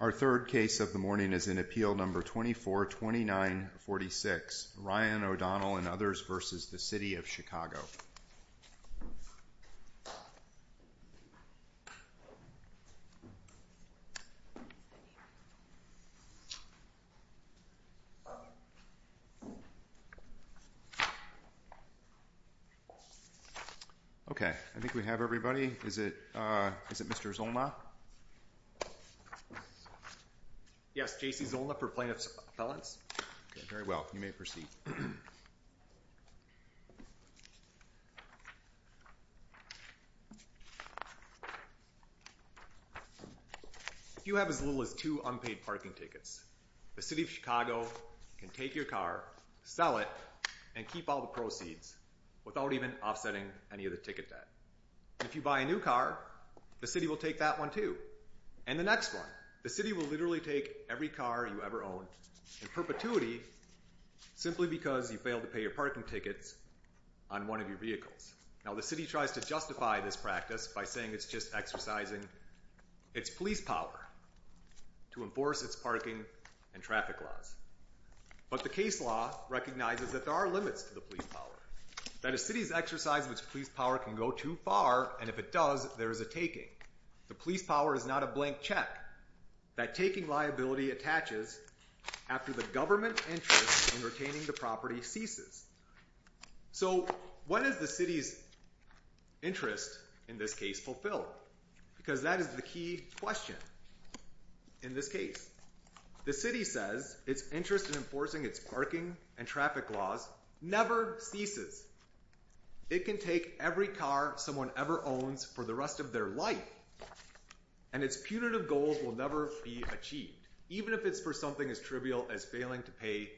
Our third case of the morning is in Appeal No. 242946, Ryan O'Donnell v. City of Chicago. Okay. I think we have everybody. Is it Mr. Zolna? Yes, J.C. Zolna for plaintiff's appellants. Okay, very well. You may proceed. If you have as little as two unpaid parking tickets, the City of Chicago can take your car, sell it, and keep all the proceeds without even offsetting any of the ticket debt. If you buy a new car, the City will take that one, too. And the next one, the City will literally take every car you ever own in perpetuity simply because you failed to pay your parking tickets on one of your vehicles. Now, the City tries to justify this practice by saying it's just exercising its police power to enforce its parking and traffic laws. But the case law recognizes that there are limits to the police power. That a city's exercise of its police power can go too far, and if it does, there is a taking. The police power is not a blank check. That taking liability attaches after the government interest in retaining the property ceases. So what is the city's interest in this case fulfilled? Because that is the key question in this case. The city says its interest in enforcing its parking and traffic laws never ceases. It can take every car someone ever owns for the rest of their life, and its punitive goals will never be achieved, even if it's for something as trivial as failing to pay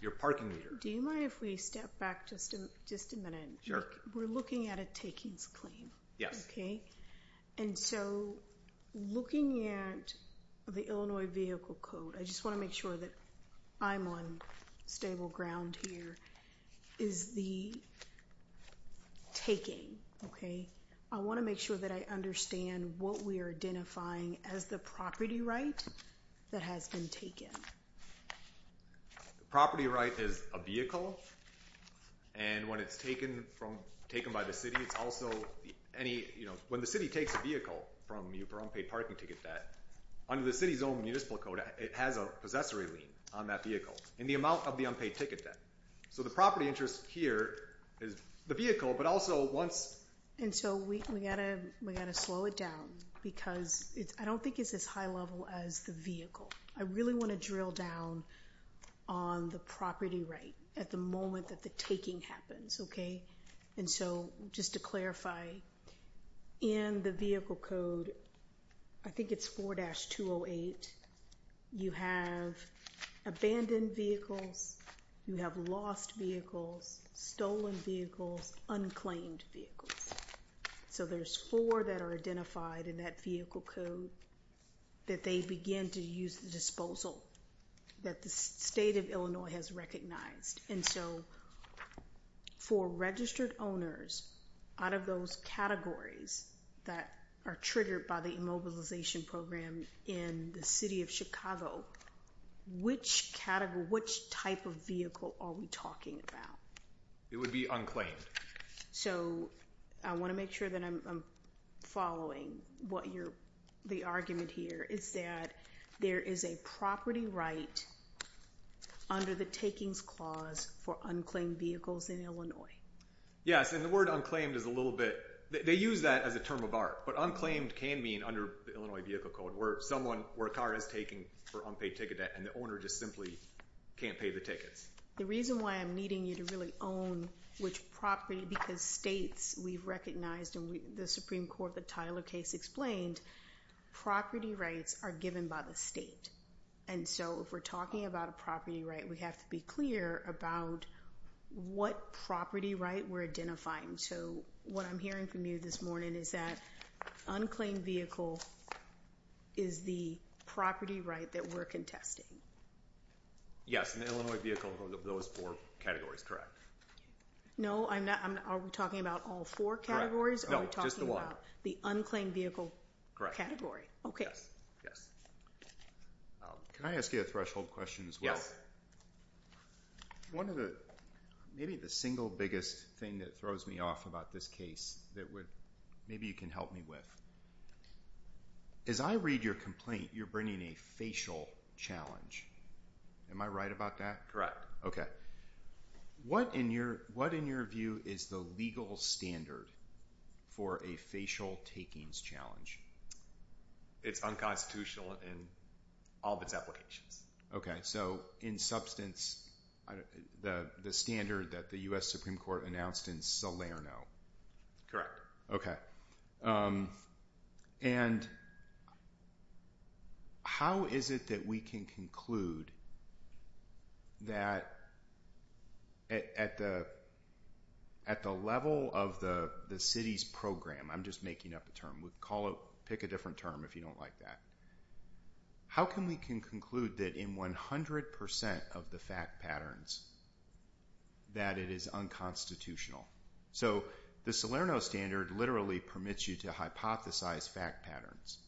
your parking meter. Do you mind if we step back just a minute? Sure. We're looking at a takings claim. Yes. And so, looking at the Illinois Vehicle Code, I just want to make sure that I'm on stable ground here, is the taking, okay? I want to make sure that I understand what we are identifying as the property right that has been taken. The property right is a vehicle, and when it's taken by the city, it's also any, you know, when the city takes a vehicle from you for unpaid parking ticket debt, under the city's own municipal code, it has a possessory lien on that vehicle in the amount of the unpaid ticket debt. So the property interest here is the vehicle, but also once- And so we've got to slow it down because I don't think it's as high level as the vehicle. I really want to drill down on the property right at the moment that the taking happens, okay? And so, just to clarify, in the Vehicle Code, I think it's 4-208, you have abandoned vehicles, you have lost vehicles, stolen vehicles, unclaimed vehicles. So there's four that are identified in that Vehicle Code that they begin to use at disposal, that the state of Illinois has recognized. And so, for registered owners, out of those categories that are triggered by the immobilization program in the city of Chicago, which category, which type of vehicle are we talking about? It would be unclaimed. So, I want to make sure that I'm following what you're- the argument here is that there is a property right under the Takings Clause for unclaimed vehicles in Illinois. Yes, and the word unclaimed is a little bit- they use that as a term of art, but unclaimed can mean, under the Illinois Vehicle Code, where someone- where a car is taken for unpaid ticket debt and the owner just simply can't pay the tickets. The reason why I'm needing you to really own which property, because states, we've recognized, and the Supreme Court, the Tyler case explained, property rights are given by the state. And so, if we're talking about a property right, we have to be clear about what property right we're identifying. So, what I'm hearing from you this morning is that unclaimed vehicle is the property right that we're contesting. Yes, and the Illinois Vehicle Code of those four categories, correct. No, I'm not- are we talking about all four categories? No, just the one. Are we talking about the unclaimed vehicle category? Okay. Yes, yes. Can I ask you a threshold question as well? Yes. One of the- maybe the single biggest thing that throws me off about this case that would- maybe you can help me with. As I read your complaint, you're bringing a facial challenge. Am I right about that? Okay. What in your view is the legal standard for a facial takings challenge? It's unconstitutional in all of its applications. Okay, so in substance, the standard that the U.S. Supreme Court announced in Salerno. Correct. Correct. And how is it that we can conclude that at the level of the city's program- I'm just making up a term. Pick a different term if you don't like that. How can we conclude that in 100% of the fact patterns that it is unconstitutional? So the Salerno standard literally permits you to hypothesize fact patterns.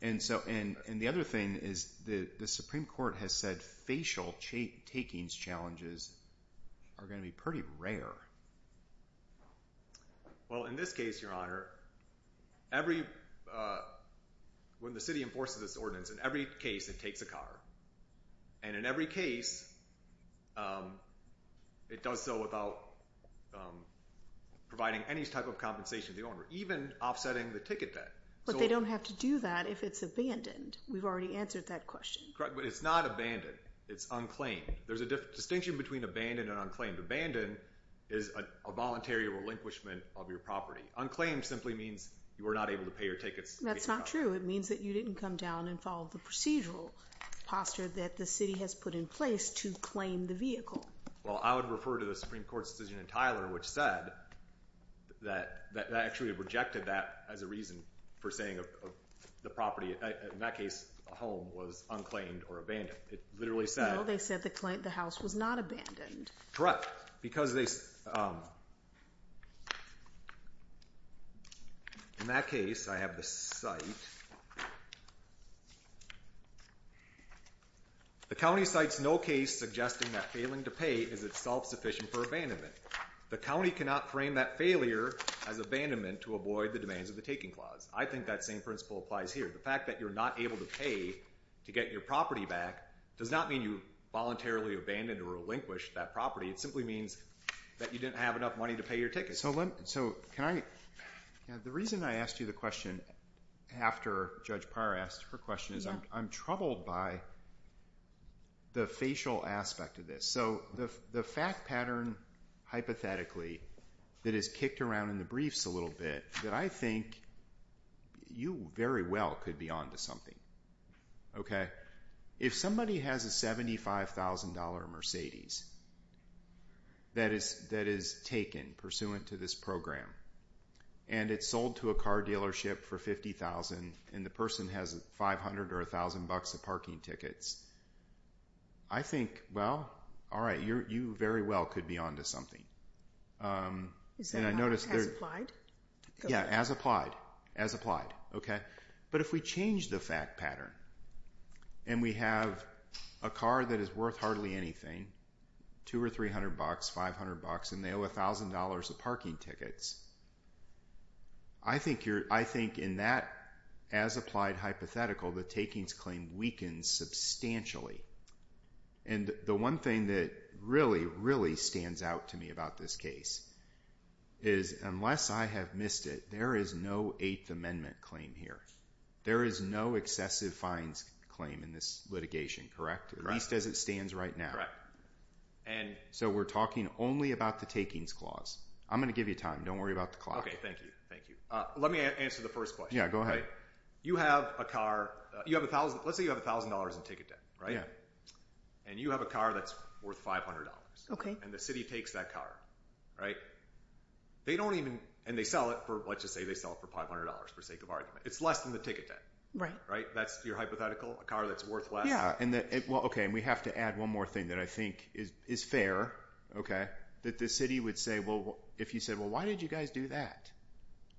And the other thing is the Supreme Court has said facial takings challenges are going to be pretty rare. Well, in this case, Your Honor, when the city enforces this ordinance, in every case it takes a car. And in every case, it does so without providing any type of compensation to the owner, even offsetting the ticket debt. But they don't have to do that if it's abandoned. We've already answered that question. Correct. But it's not abandoned. It's unclaimed. There's a distinction between abandoned and unclaimed. Abandoned is a voluntary relinquishment of your property. Unclaimed simply means you were not able to pay your tickets. That's not true. It means that you didn't come down and follow the procedural posture that the city has put in place to claim the vehicle. Well, I would refer to the Supreme Court's decision in Tyler, which said that actually rejected that as a reason for saying the property, in that case, a home, was unclaimed or abandoned. It literally said— No, they said the house was not abandoned. Correct. In that case, I have the site. The county cites no case suggesting that failing to pay is itself sufficient for abandonment. The county cannot frame that failure as abandonment to avoid the demands of the taking clause. I think that same principle applies here. The fact that you're not able to pay to get your property back does not mean you voluntarily abandoned or relinquished that property. It simply means that you didn't have enough money to pay your tickets. The reason I asked you the question after Judge Parr asked her question is I'm troubled by the facial aspect of this. The fact pattern, hypothetically, that is kicked around in the briefs a little bit that I think you very well could be on to something. If somebody has a $75,000 Mercedes that is taken pursuant to this program and it's sold to a car dealership for $50,000 and the person has $500 or $1,000 of parking tickets, I think, well, all right, you very well could be on to something. Is that as applied? Yeah, as applied. But if we change the fact pattern and we have a car that is worth hardly anything, $200 or $300, $500, and they owe $1,000 of parking tickets, I think in that as applied hypothetical, the takings claim weakens substantially. And the one thing that really, really stands out to me about this case is unless I have missed it, there is no Eighth Amendment claim here. There is no excessive fines claim in this litigation, correct? Correct. At least as it stands right now. Correct. So we're talking only about the takings clause. I'm going to give you time. Don't worry about the clock. Okay, thank you. Thank you. Let me answer the first question. Yeah, go ahead. You have a car, let's say you have $1,000 in ticket debt, right? Yeah. And you have a car that's worth $500. Okay. And the city takes that car, right? They don't even, and they sell it for, let's just say they sell it for $500 for sake of argument. It's less than the ticket debt. Right. Right? That's your hypothetical? A car that's worth less? Yeah. Okay, and we have to add one more thing that I think is fair. That the city would say, well, if you said, well, why did you guys do that?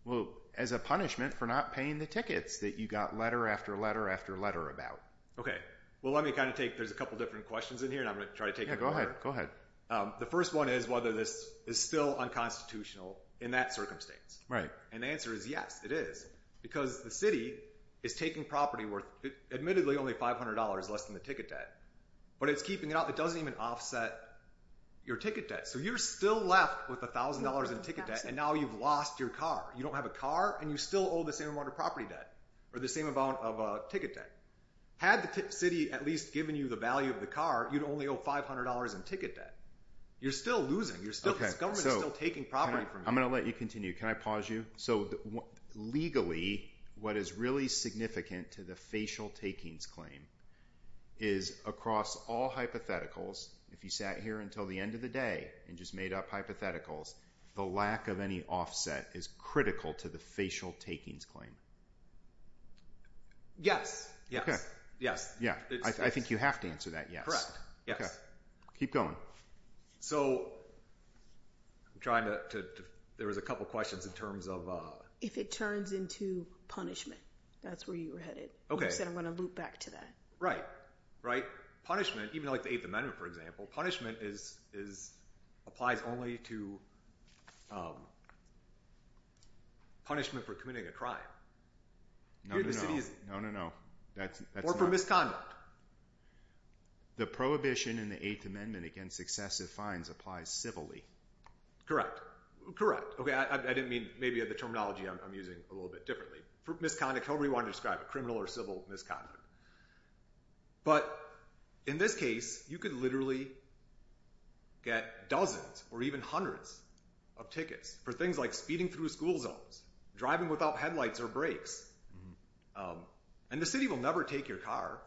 Well, as a punishment for not paying the tickets that you got letter after letter after letter about. Okay. Well, let me kind of take, there's a couple different questions in here and I'm going to try to take them. Yeah, go ahead. Go ahead. The first one is whether this is still unconstitutional in that circumstance. Right. And the answer is yes, it is. Because the city is taking property worth, admittedly only $500 less than the ticket debt, but it's keeping it out. It doesn't even offset your ticket debt. So you're still left with $1,000 in ticket debt and now you've lost your car. You don't have a car and you still owe the same amount of property debt or the same amount of ticket debt. Had the city at least given you the value of the car, you'd only owe $500 in ticket debt. You're still losing. You're still, this government is still taking property from you. I'm going to let you continue. Can I pause you? So legally, what is really significant to the facial takings claim is across all hypotheticals, if you sat here until the end of the day and just made up hypotheticals, the lack of any offset is critical to the facial takings claim. Yes. Okay. Yes. Yeah. I think you have to answer that yes. Yes. Okay. Keep going. So I'm trying to, there was a couple of questions in terms of. If it turns into punishment, that's where you were headed. Okay. You said I'm going to loop back to that. Right. Right. Punishment, even like the Eighth Amendment, for example, punishment applies only to punishment for committing a crime. No, no, no. Or for misconduct. The prohibition in the Eighth Amendment against excessive fines applies civilly. Correct. I didn't mean maybe the terminology I'm using a little bit differently. For misconduct, however you want to describe it, criminal or civil misconduct. But in this case, you could literally get dozens or even hundreds of tickets for things like speeding through school zones, driving without headlights or brakes. And the city will never take your car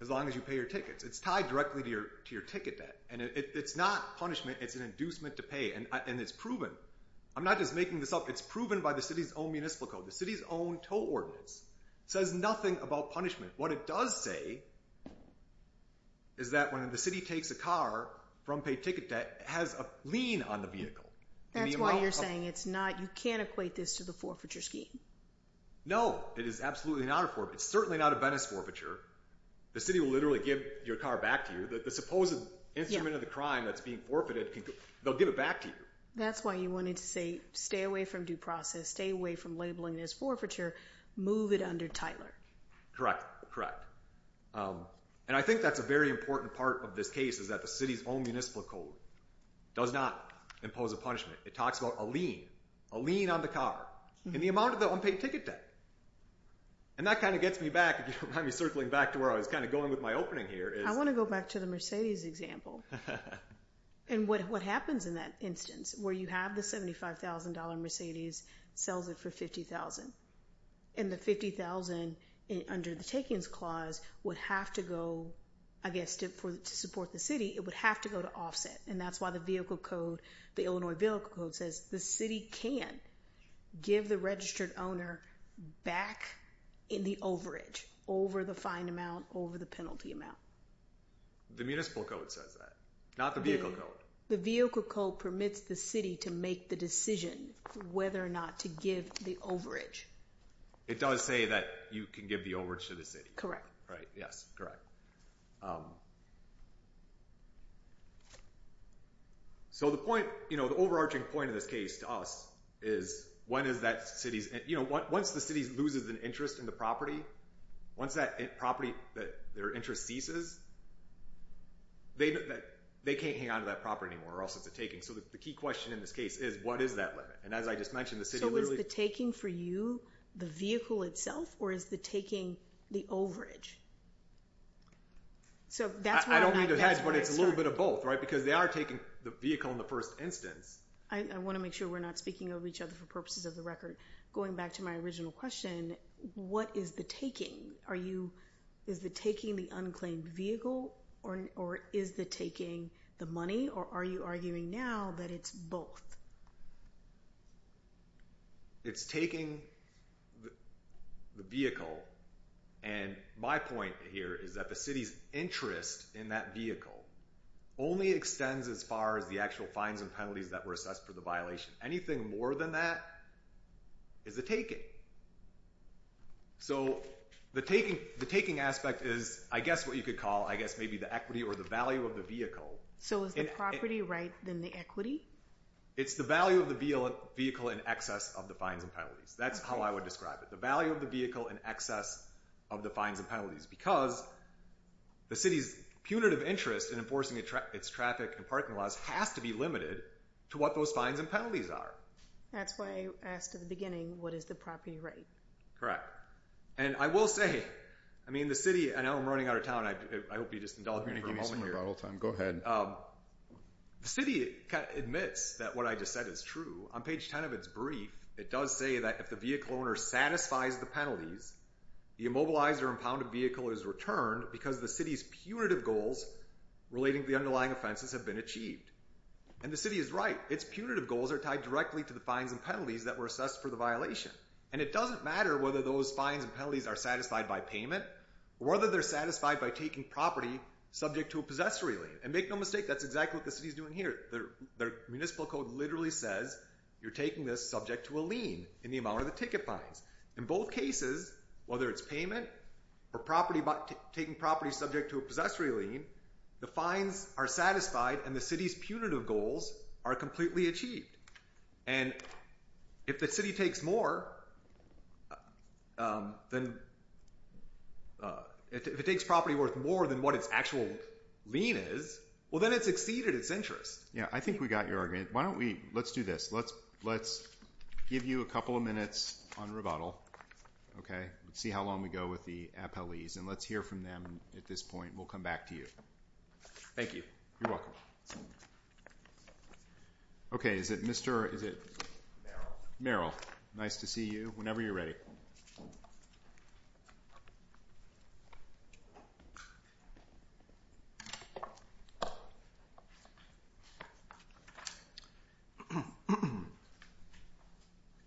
as long as you pay your tickets. It's tied directly to your ticket debt. And it's not punishment. It's an inducement to pay. And it's proven. I'm not just making this up. It's proven by the city's own municipal code. The city's own tow ordinance says nothing about punishment. What it does say is that when the city takes a car from paid ticket debt, it has a lien on the vehicle. That's why you're saying it's not, you can't equate this to the forfeiture scheme. No, it is absolutely not a forfeiture. It's certainly not a Venice forfeiture. The city will literally give your car back to you. The supposed instrument of the crime that's being forfeited, they'll give it back to you. That's why you wanted to say stay away from due process. Stay away from labeling this forfeiture. Move it under Tyler. Correct. Correct. And I think that's a very important part of this case is that the city's own municipal code does not impose a punishment. It talks about a lien. A lien on the car. And the amount of the unpaid ticket debt. And that kind of gets me back, if you don't mind me circling back to where I was kind of going with my opening here. I want to go back to the Mercedes example. And what happens in that instance where you have the $75,000 Mercedes, sells it for $50,000. And the $50,000 under the takings clause would have to go, I guess, to support the city, it would have to go to offset. And that's why the vehicle code, the Illinois vehicle code, says the city can give the registered owner back in the overage over the fine amount, over the penalty amount. The municipal code says that. Not the vehicle code. The vehicle code permits the city to make the decision whether or not to give the overage. It does say that you can give the overage to the city. Correct. Right, yes, correct. So the point, you know, the overarching point of this case to us is when is that city's, you know, once the city loses an interest in the property, once that property, their interest ceases, they can't hang onto that property anymore or else it's a taking. So the key question in this case is what is that limit? And as I just mentioned, the city literally. So is the taking for you the vehicle itself or is the taking the overage? So that's why. I don't mean to hedge, but it's a little bit of both, right? Because they are taking the vehicle in the first instance. I want to make sure we're not speaking of each other for purposes of the record. Going back to my original question, what is the taking? Are you, is the taking the unclaimed vehicle or is the taking the money or are you arguing now that it's both? It's taking the vehicle. And my point here is that the city's interest in that vehicle only extends as far as the actual fines and penalties that were assessed for the violation. Anything more than that is a taking. So the taking aspect is, I guess, what you could call, I guess, maybe the equity or the value of the vehicle. So is the property right than the equity? It's the value of the vehicle in excess of the fines and penalties. That's how I would describe it. The value of the vehicle in excess of the fines and penalties. Because the city's punitive interest in enforcing its traffic and parking laws has to be limited to what those fines and penalties are. That's why I asked at the beginning, what is the property rate? Correct. And I will say, I mean, the city, I know I'm running out of time. I hope you just indulge me for a moment here. You're going to give me some rebuttal time. Go ahead. The city admits that what I just said is true. On page 10 of its brief, it does say that if the vehicle owner satisfies the penalties, the immobilized or impounded vehicle is returned because the city's punitive goals relating to the underlying offenses have been achieved. And the city is right. Its punitive goals are tied directly to the fines and penalties that were assessed for the violation. And it doesn't matter whether those fines and penalties are satisfied by payment or whether they're satisfied by taking property subject to a possessory lien. And make no mistake, that's exactly what the city is doing here. Their municipal code literally says you're taking this subject to a lien in the amount of the ticket fines. In both cases, whether it's payment or property, taking property subject to a possessory lien, the fines are satisfied and the city's punitive goals are completely achieved. And if the city takes property worth more than what its actual lien is, well, then it's exceeded its interest. Yeah, I think we got your argument. Let's do this. Let's give you a couple of minutes on rebuttal. Okay? Let's see how long we go with the appellees and let's hear from them at this point. We'll come back to you. Thank you. You're welcome. Okay, is it Mr. or is it? Merrill. Nice to see you. Whenever you're ready.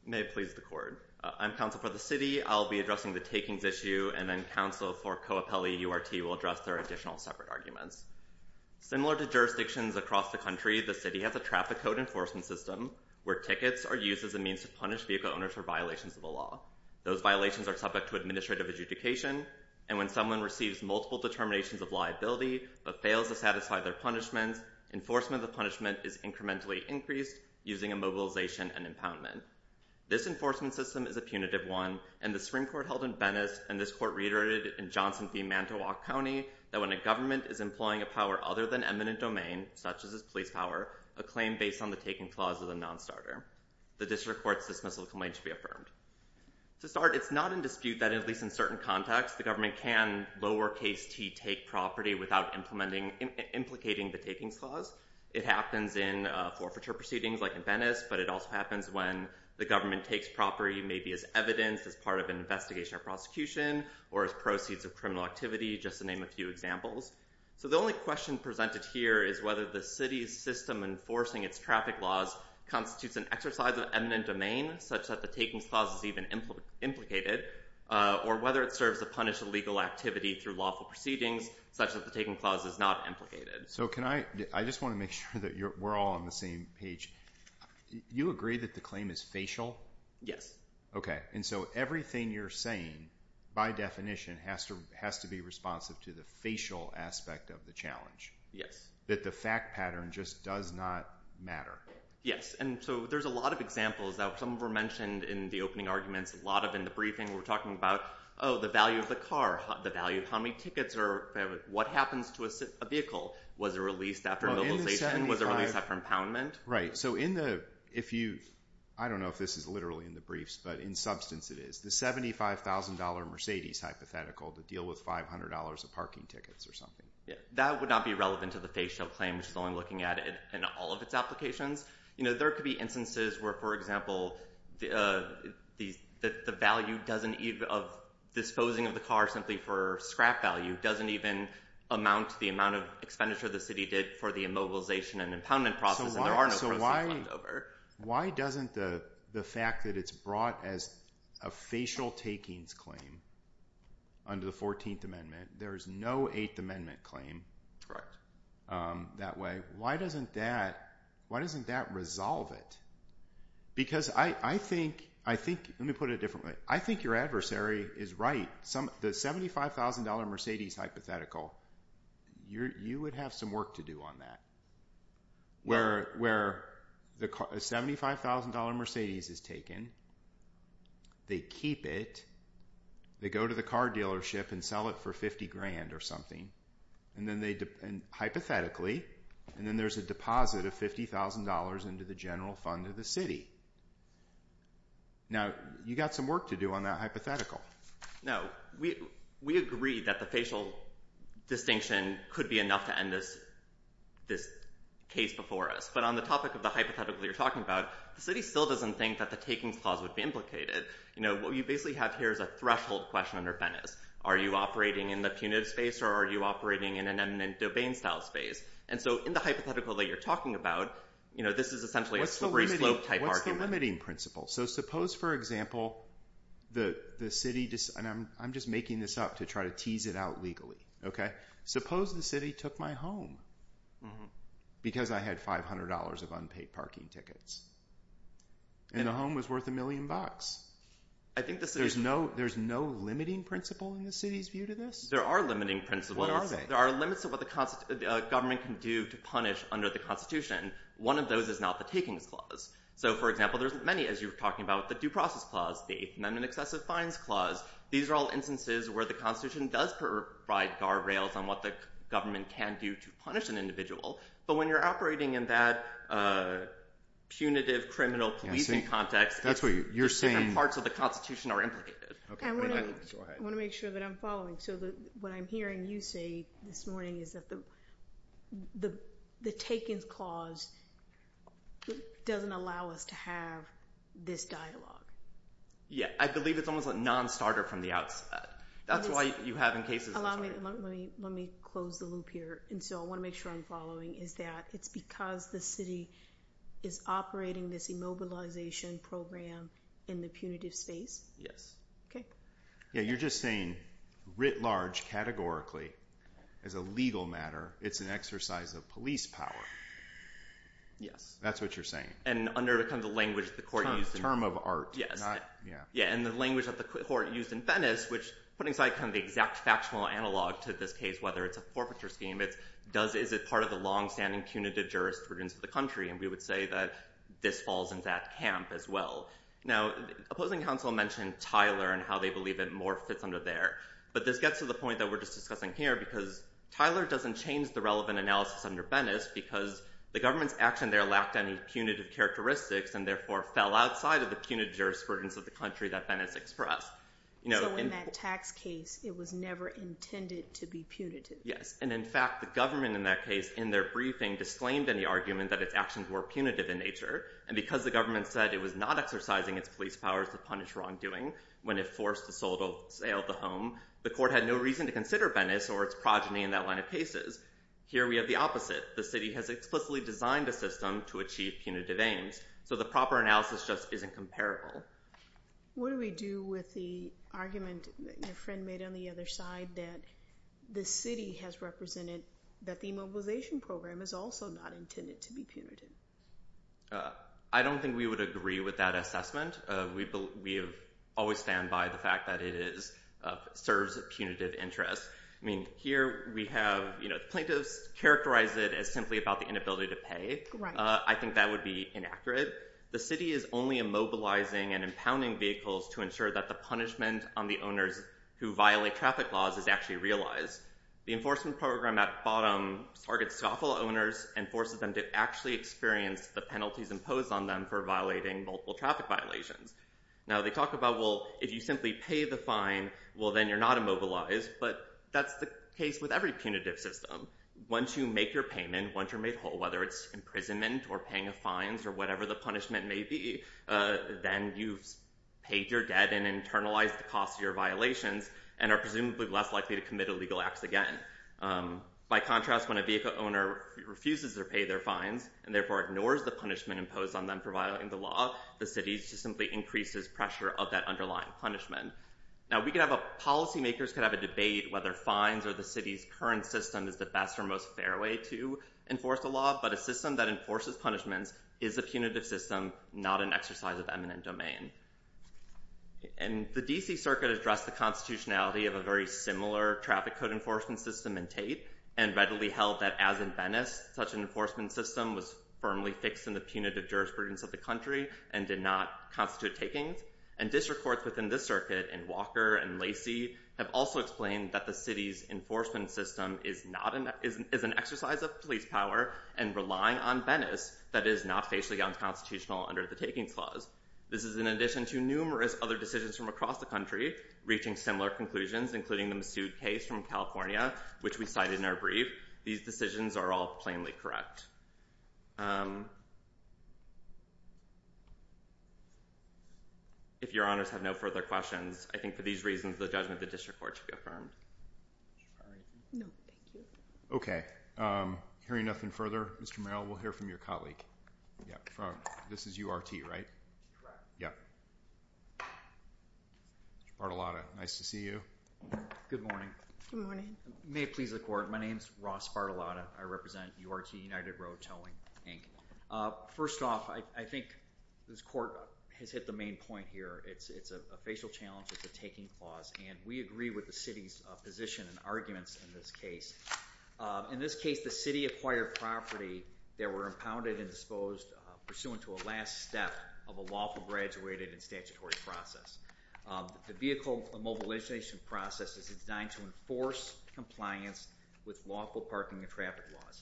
May it please the court. I'm counsel for the city. I'll be addressing the takings issue, and then counsel for Coapelli URT will address their additional separate arguments. Similar to jurisdictions across the country, the city has a traffic code enforcement system where tickets are used as a means to punish vehicle owners for violations of the law. Those violations are subject to administrative adjudication, and when someone receives multiple determinations of liability but fails to satisfy their punishments, enforcement of the punishment is incrementally increased using a mobilization and impoundment. This enforcement system is a punitive one, and the Supreme Court held in Venice and this court reiterated in Johnson v. Mantua County that when a government is employing a power other than eminent domain, such as its police power, a claim based on the taking clause is a nonstarter. The district court's dismissal complaint should be affirmed. To start, it's not in dispute that, at least in certain contexts, the government can lowercase T take property without implicating the takings clause. It happens in forfeiture proceedings like in Venice, but it also happens when the government takes property maybe as evidence, as part of an investigation or prosecution, or as proceeds of criminal activity, just to name a few examples. So the only question presented here is whether the city's system enforcing its traffic laws constitutes an exercise of eminent domain, such that the takings clause is even implicated, or whether it serves to punish illegal activity through lawful proceedings, such that the taking clause is not implicated. So can I, I just want to make sure that we're all on the same page. You agree that the claim is facial? Yes. Okay. And so everything you're saying, by definition, has to be responsive to the facial aspect of the challenge. Yes. That the fact pattern just does not matter. Yes. And so there's a lot of examples. Some were mentioned in the opening arguments. A lot of in the briefing were talking about, oh, the value of the car, the value of how many tickets, or what happens to a vehicle. Was it released after mobilization? Was it released after impoundment? Right. So in the, if you, I don't know if this is literally in the briefs, but in substance it is. The $75,000 Mercedes hypothetical to deal with $500 of parking tickets or something. That would not be relevant to the facial claim, which is what I'm looking at in all of its applications. You know, there could be instances where, for example, the value doesn't even, of disposing of the car simply for scrap value, doesn't even amount to the amount of expenditure the city did for the immobilization and impoundment process. So why doesn't the fact that it's brought as a facial takings claim under the 14th Amendment, there is no 8th Amendment claim that way. Why doesn't that, why doesn't that resolve it? Because I think, I think, let me put it a different way. I think your adversary is right. The $75,000 Mercedes hypothetical, you would have some work to do on that. Where the $75,000 Mercedes is taken, they keep it, they go to the car dealership and sell it for $50,000 or something, and then they, hypothetically, and then there's a deposit of $50,000 into the general fund of the city. Now, you've got some work to do on that hypothetical. No, we, we agree that the facial distinction could be enough to end this, this case before us. But on the topic of the hypothetical you're talking about, the city still doesn't think that the takings clause would be implicated. You know, what you basically have here is a threshold question under Venice. Are you operating in the punitive space or are you operating in an eminent domain style space? And so in the hypothetical that you're talking about, you know, this is essentially a slope type argument. What's the limiting principle? So suppose, for example, the city, and I'm just making this up to try to tease it out legally, okay? Suppose the city took my home because I had $500 of unpaid parking tickets and a home was worth a million bucks. There's no limiting principle in the city's view to this? There are limiting principles. What are they? There are limits to what the government can do to punish under the Constitution. One of those is not the takings clause. So, for example, there's many, as you were talking about, the Due Process Clause, the Eighth Amendment Excessive Fines Clause. These are all instances where the Constitution does provide guardrails on what the government can do to punish an individual. But when you're operating in that punitive criminal policing context, different parts of the Constitution are implicated. I want to make sure that I'm following. So what I'm hearing you say this morning is that the takings clause doesn't allow us to have this dialogue. Yeah, I believe it's almost a non-starter from the outset. That's why you have in cases. Let me close the loop here. And so I want to make sure I'm following is that it's because the city is operating this immobilization program in the punitive space? Yes. Okay. Yeah, you're just saying, writ large, categorically, as a legal matter, it's an exercise of police power. Yes. That's what you're saying. And under the kind of language the court used. Term of art. Yes. Yeah, and the language that the court used in Venice, which put inside kind of the exact factional analog to this case, whether it's a forfeiture scheme, is it part of the long-standing punitive jurisprudence of the country? And we would say that this falls in that camp as well. Now, opposing counsel mentioned Tyler and how they believe it more fits under there, but this gets to the point that we're just discussing here because Tyler doesn't change the relevant analysis under Venice because the government's action there lacked any punitive characteristics and therefore fell outside of the punitive jurisprudence of the country that Venice expressed. So in that tax case, it was never intended to be punitive. Yes, and, in fact, the government in that case, in their briefing, disclaimed in the argument that its actions were punitive in nature, and because the government said it was not exercising its police powers to punish wrongdoing when it forced the sale of the home, the court had no reason to consider Venice or its progeny in that line of cases. Here we have the opposite. The city has explicitly designed a system to achieve punitive aims. So the proper analysis just isn't comparable. What do we do with the argument that your friend made on the other side that the city has represented that the immobilization program is also not intended to be punitive? I don't think we would agree with that assessment. We always stand by the fact that it serves punitive interests. I mean, here we have plaintiffs characterize it as simply about the inability to pay. I think that would be inaccurate. The city is only immobilizing and impounding vehicles to ensure that the punishment on the owners who violate traffic laws is actually realized. The enforcement program at the bottom targets scoffle owners and forces them to actually experience the penalties imposed on them for violating multiple traffic violations. Now, they talk about, well, if you simply pay the fine, well, then you're not immobilized, but that's the case with every punitive system. Once you make your payment, once you're made whole, whether it's imprisonment or paying fines or whatever the punishment may be, then you've paid your debt and internalized the cost of your violations and are presumably less likely to commit illegal acts again. By contrast, when a vehicle owner refuses to pay their fines and therefore ignores the punishment imposed on them for violating the law, the city simply increases pressure of that underlying punishment. Now, policymakers could have a debate whether fines or the city's current system is the best or most fair way to enforce the law, but a system that enforces punishments is a punitive system, not an exercise of eminent domain. And the D.C. Circuit addressed the constitutionality of a very similar traffic code enforcement system in Tate and readily held that as in Venice, such an enforcement system was firmly fixed in the punitive jurisprudence of the country and did not constitute takings. And district courts within this circuit in Walker and Lacey have also explained that the city's enforcement system is an exercise of police power and relying on Venice that is not facially unconstitutional under the takings clause. This is in addition to numerous other decisions from across the country reaching similar conclusions, including the Massoud case from California, which we cited in our brief. These decisions are all plainly correct. If your honors have no further questions, I think for these reasons the judgment of the district court should be affirmed. Okay. Hearing nothing further, Mr. Merrill, we'll hear from your colleague. This is URT, right? Correct. Mr. Bartolotta, nice to see you. Good morning. Good morning. May it please the court, my name is Ross Bartolotta. I represent URT, United Road Towing, Inc. First off, I think this court has hit the main point here. It's a facial challenge with the taking clause, and we agree with the city's position and arguments in this case. In this case, the city acquired property that were impounded and disposed pursuant to a last step of a lawful graduated and statutory process. The vehicle mobilization process is designed to enforce compliance with lawful parking and traffic laws,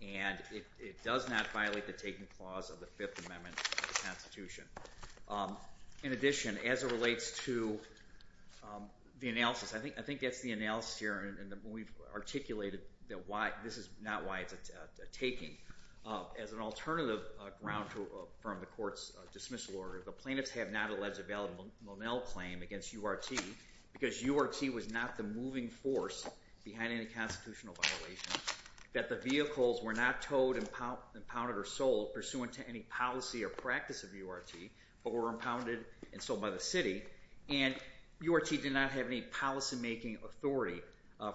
and it does not violate the taking clause of the Fifth Amendment of the Constitution. In addition, as it relates to the analysis, I think that's the analysis here, and we've articulated that this is not why it's a taking. As an alternative ground from the court's dismissal order, the plaintiffs have not alleged a valid Monel claim against URT because URT was not the moving force behind any constitutional violation, that the vehicles were not towed, impounded, or sold pursuant to any policy or practice of URT, but were impounded and sold by the city, and URT did not have any policymaking authority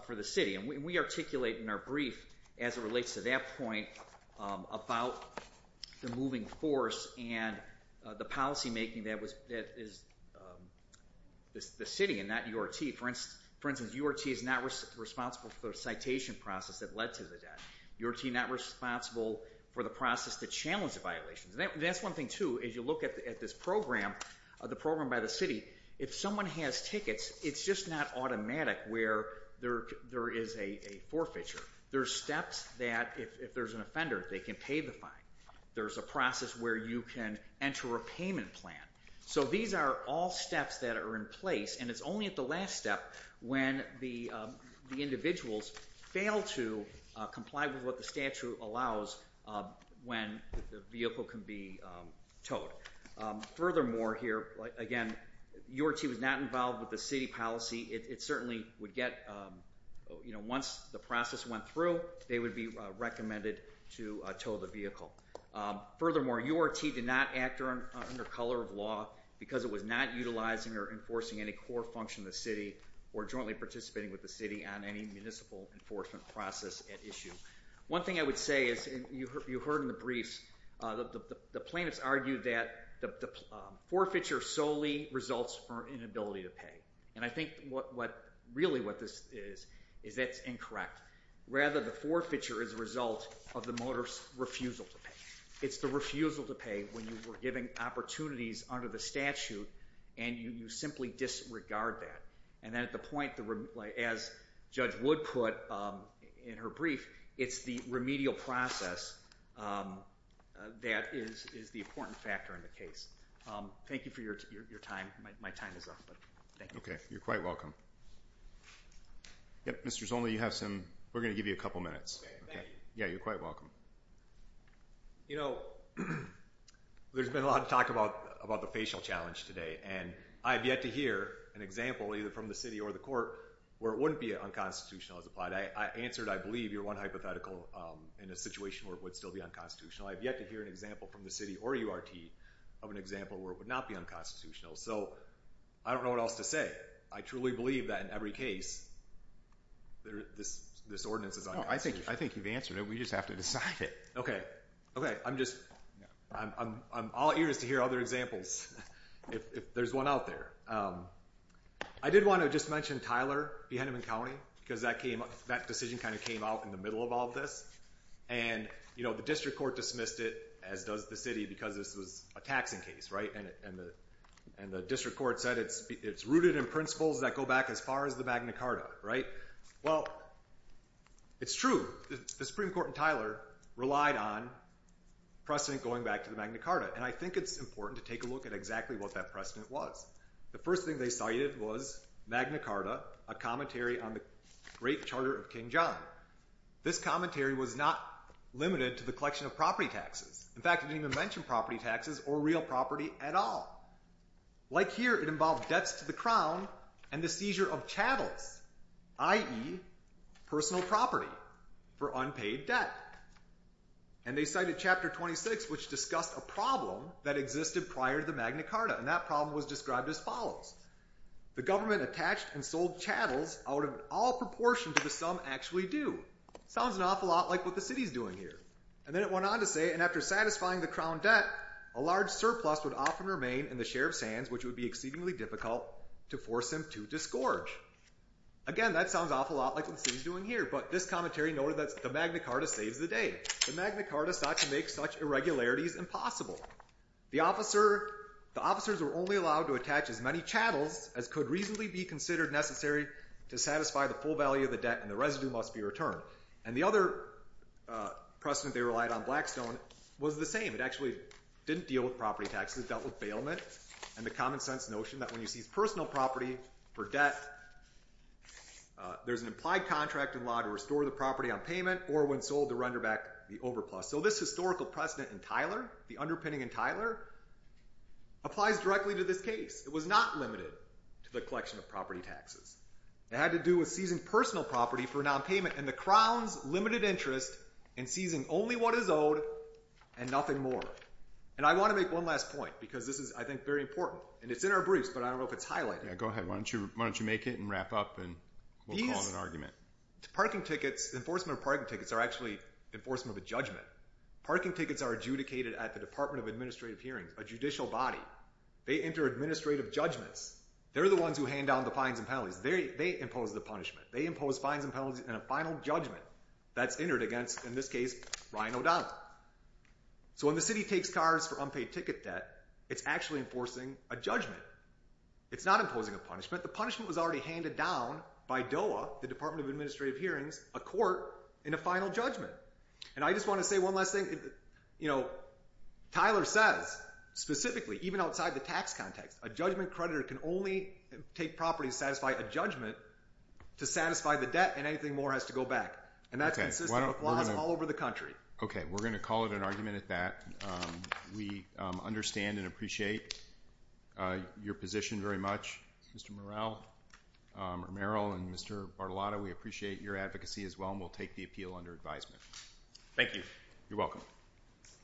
for the city. And we articulate in our brief, as it relates to that point, about the moving force and the policymaking that is the city and not URT. For instance, URT is not responsible for the citation process that led to the death. URT is not responsible for the process that challenged the violations. That's one thing, too, as you look at this program, the program by the city, if someone has tickets, it's just not automatic where there is a forfeiture. There's steps that, if there's an offender, they can pay the fine. There's a process where you can enter a payment plan. So these are all steps that are in place, and it's only at the last step when the individuals fail to comply with what the statute allows when the vehicle can be towed. Furthermore here, again, URT was not involved with the city policy. It certainly would get, you know, once the process went through, they would be recommended to tow the vehicle. Furthermore, URT did not act under color of law because it was not utilizing or enforcing any core function of the city or jointly participating with the city on any municipal enforcement process at issue. One thing I would say is, you heard in the briefs, the plaintiffs argued that the forfeiture solely results from inability to pay. And I think really what this is, is that's incorrect. Rather, the forfeiture is a result of the motorist's refusal to pay. It's the refusal to pay when you were given opportunities under the statute, and you simply disregard that. And at the point, as Judge Wood put in her brief, it's the remedial process that is the important factor in the case. Thank you for your time. My time is up, but thank you. Okay. You're quite welcome. Yep, Mr. Zolny, you have some – we're going to give you a couple minutes. Okay, thank you. Yeah, you're quite welcome. You know, there's been a lot of talk about the facial challenge today, and I have yet to hear an example, either from the city or the court, where it wouldn't be unconstitutional as applied. I answered, I believe, your one hypothetical in a situation where it would still be unconstitutional. I have yet to hear an example from the city or URT of an example where it would not be unconstitutional. So I don't know what else to say. I truly believe that in every case, this ordinance is unconstitutional. I think you've answered it. We just have to decide it. Okay. Okay. I'm all ears to hear other examples, if there's one out there. I did want to just mention Tyler v. Henneman County because that decision kind of came out in the middle of all this. And, you know, the district court dismissed it, as does the city, because this was a taxing case, right? And the district court said it's rooted in principles that go back as far as the Magna Carta, right? Well, it's true. The Supreme Court and Tyler relied on precedent going back to the Magna Carta. And I think it's important to take a look at exactly what that precedent was. The first thing they cited was Magna Carta, a commentary on the Great Charter of King John. This commentary was not limited to the collection of property taxes. In fact, it didn't even mention property taxes or real property at all. Like here, it involved debts to the crown and the seizure of chattels, i.e. personal property for unpaid debt. And they cited Chapter 26, which discussed a problem that existed prior to the Magna Carta. And that problem was described as follows. The government attached and sold chattels out of all proportion to the sum actually due. Sounds an awful lot like what the city's doing here. And then it went on to say, and after satisfying the crown debt, a large surplus would often remain in the Sheriff's hands, which would be exceedingly difficult to force him to disgorge. Again, that sounds an awful lot like what the city's doing here. But this commentary noted that the Magna Carta saves the day. The Magna Carta sought to make such irregularities impossible. The officers were only allowed to attach as many chattels as could reasonably be considered necessary to satisfy the full value of the debt, and the residue must be returned. And the other precedent they relied on, Blackstone, was the same. It actually didn't deal with property taxes. It dealt with bailment and the common sense notion that when you seize personal property for debt, there's an implied contract in law to restore the property on payment or when sold to render back the overplus. So this historical precedent in Tyler, the underpinning in Tyler, applies directly to this case. It was not limited to the collection of property taxes. It had to do with seizing personal property for nonpayment and the Crown's limited interest in seizing only what is owed and nothing more. And I want to make one last point because this is, I think, very important. And it's in our briefs, but I don't know if it's highlighted. Yeah, go ahead. Why don't you make it and wrap up and we'll call it an argument. Parking tickets, enforcement of parking tickets, are actually enforcement of a judgment. Parking tickets are adjudicated at the Department of Administrative Hearings, a judicial body. They enter administrative judgments. They're the ones who hand down the fines and penalties. They impose the punishment. They impose fines and penalties and a final judgment that's entered against, in this case, Ryan O'Donnell. So when the city takes cars for unpaid ticket debt, it's actually enforcing a judgment. It's not imposing a punishment. The punishment was already handed down by DOA, the Department of Administrative Hearings, a court, in a final judgment. And I just want to say one last thing. Tyler says, specifically, even outside the tax context, a judgment creditor can only take property to satisfy a judgment to satisfy the debt and anything more has to go back. And that's consistent with laws all over the country. Okay, we're going to call it an argument at that. We understand and appreciate your position very much, Mr. Morrell, or Merrill, and Mr. Bartolotta. We appreciate your advocacy as well, and we'll take the appeal under advisement. Thank you. You're welcome.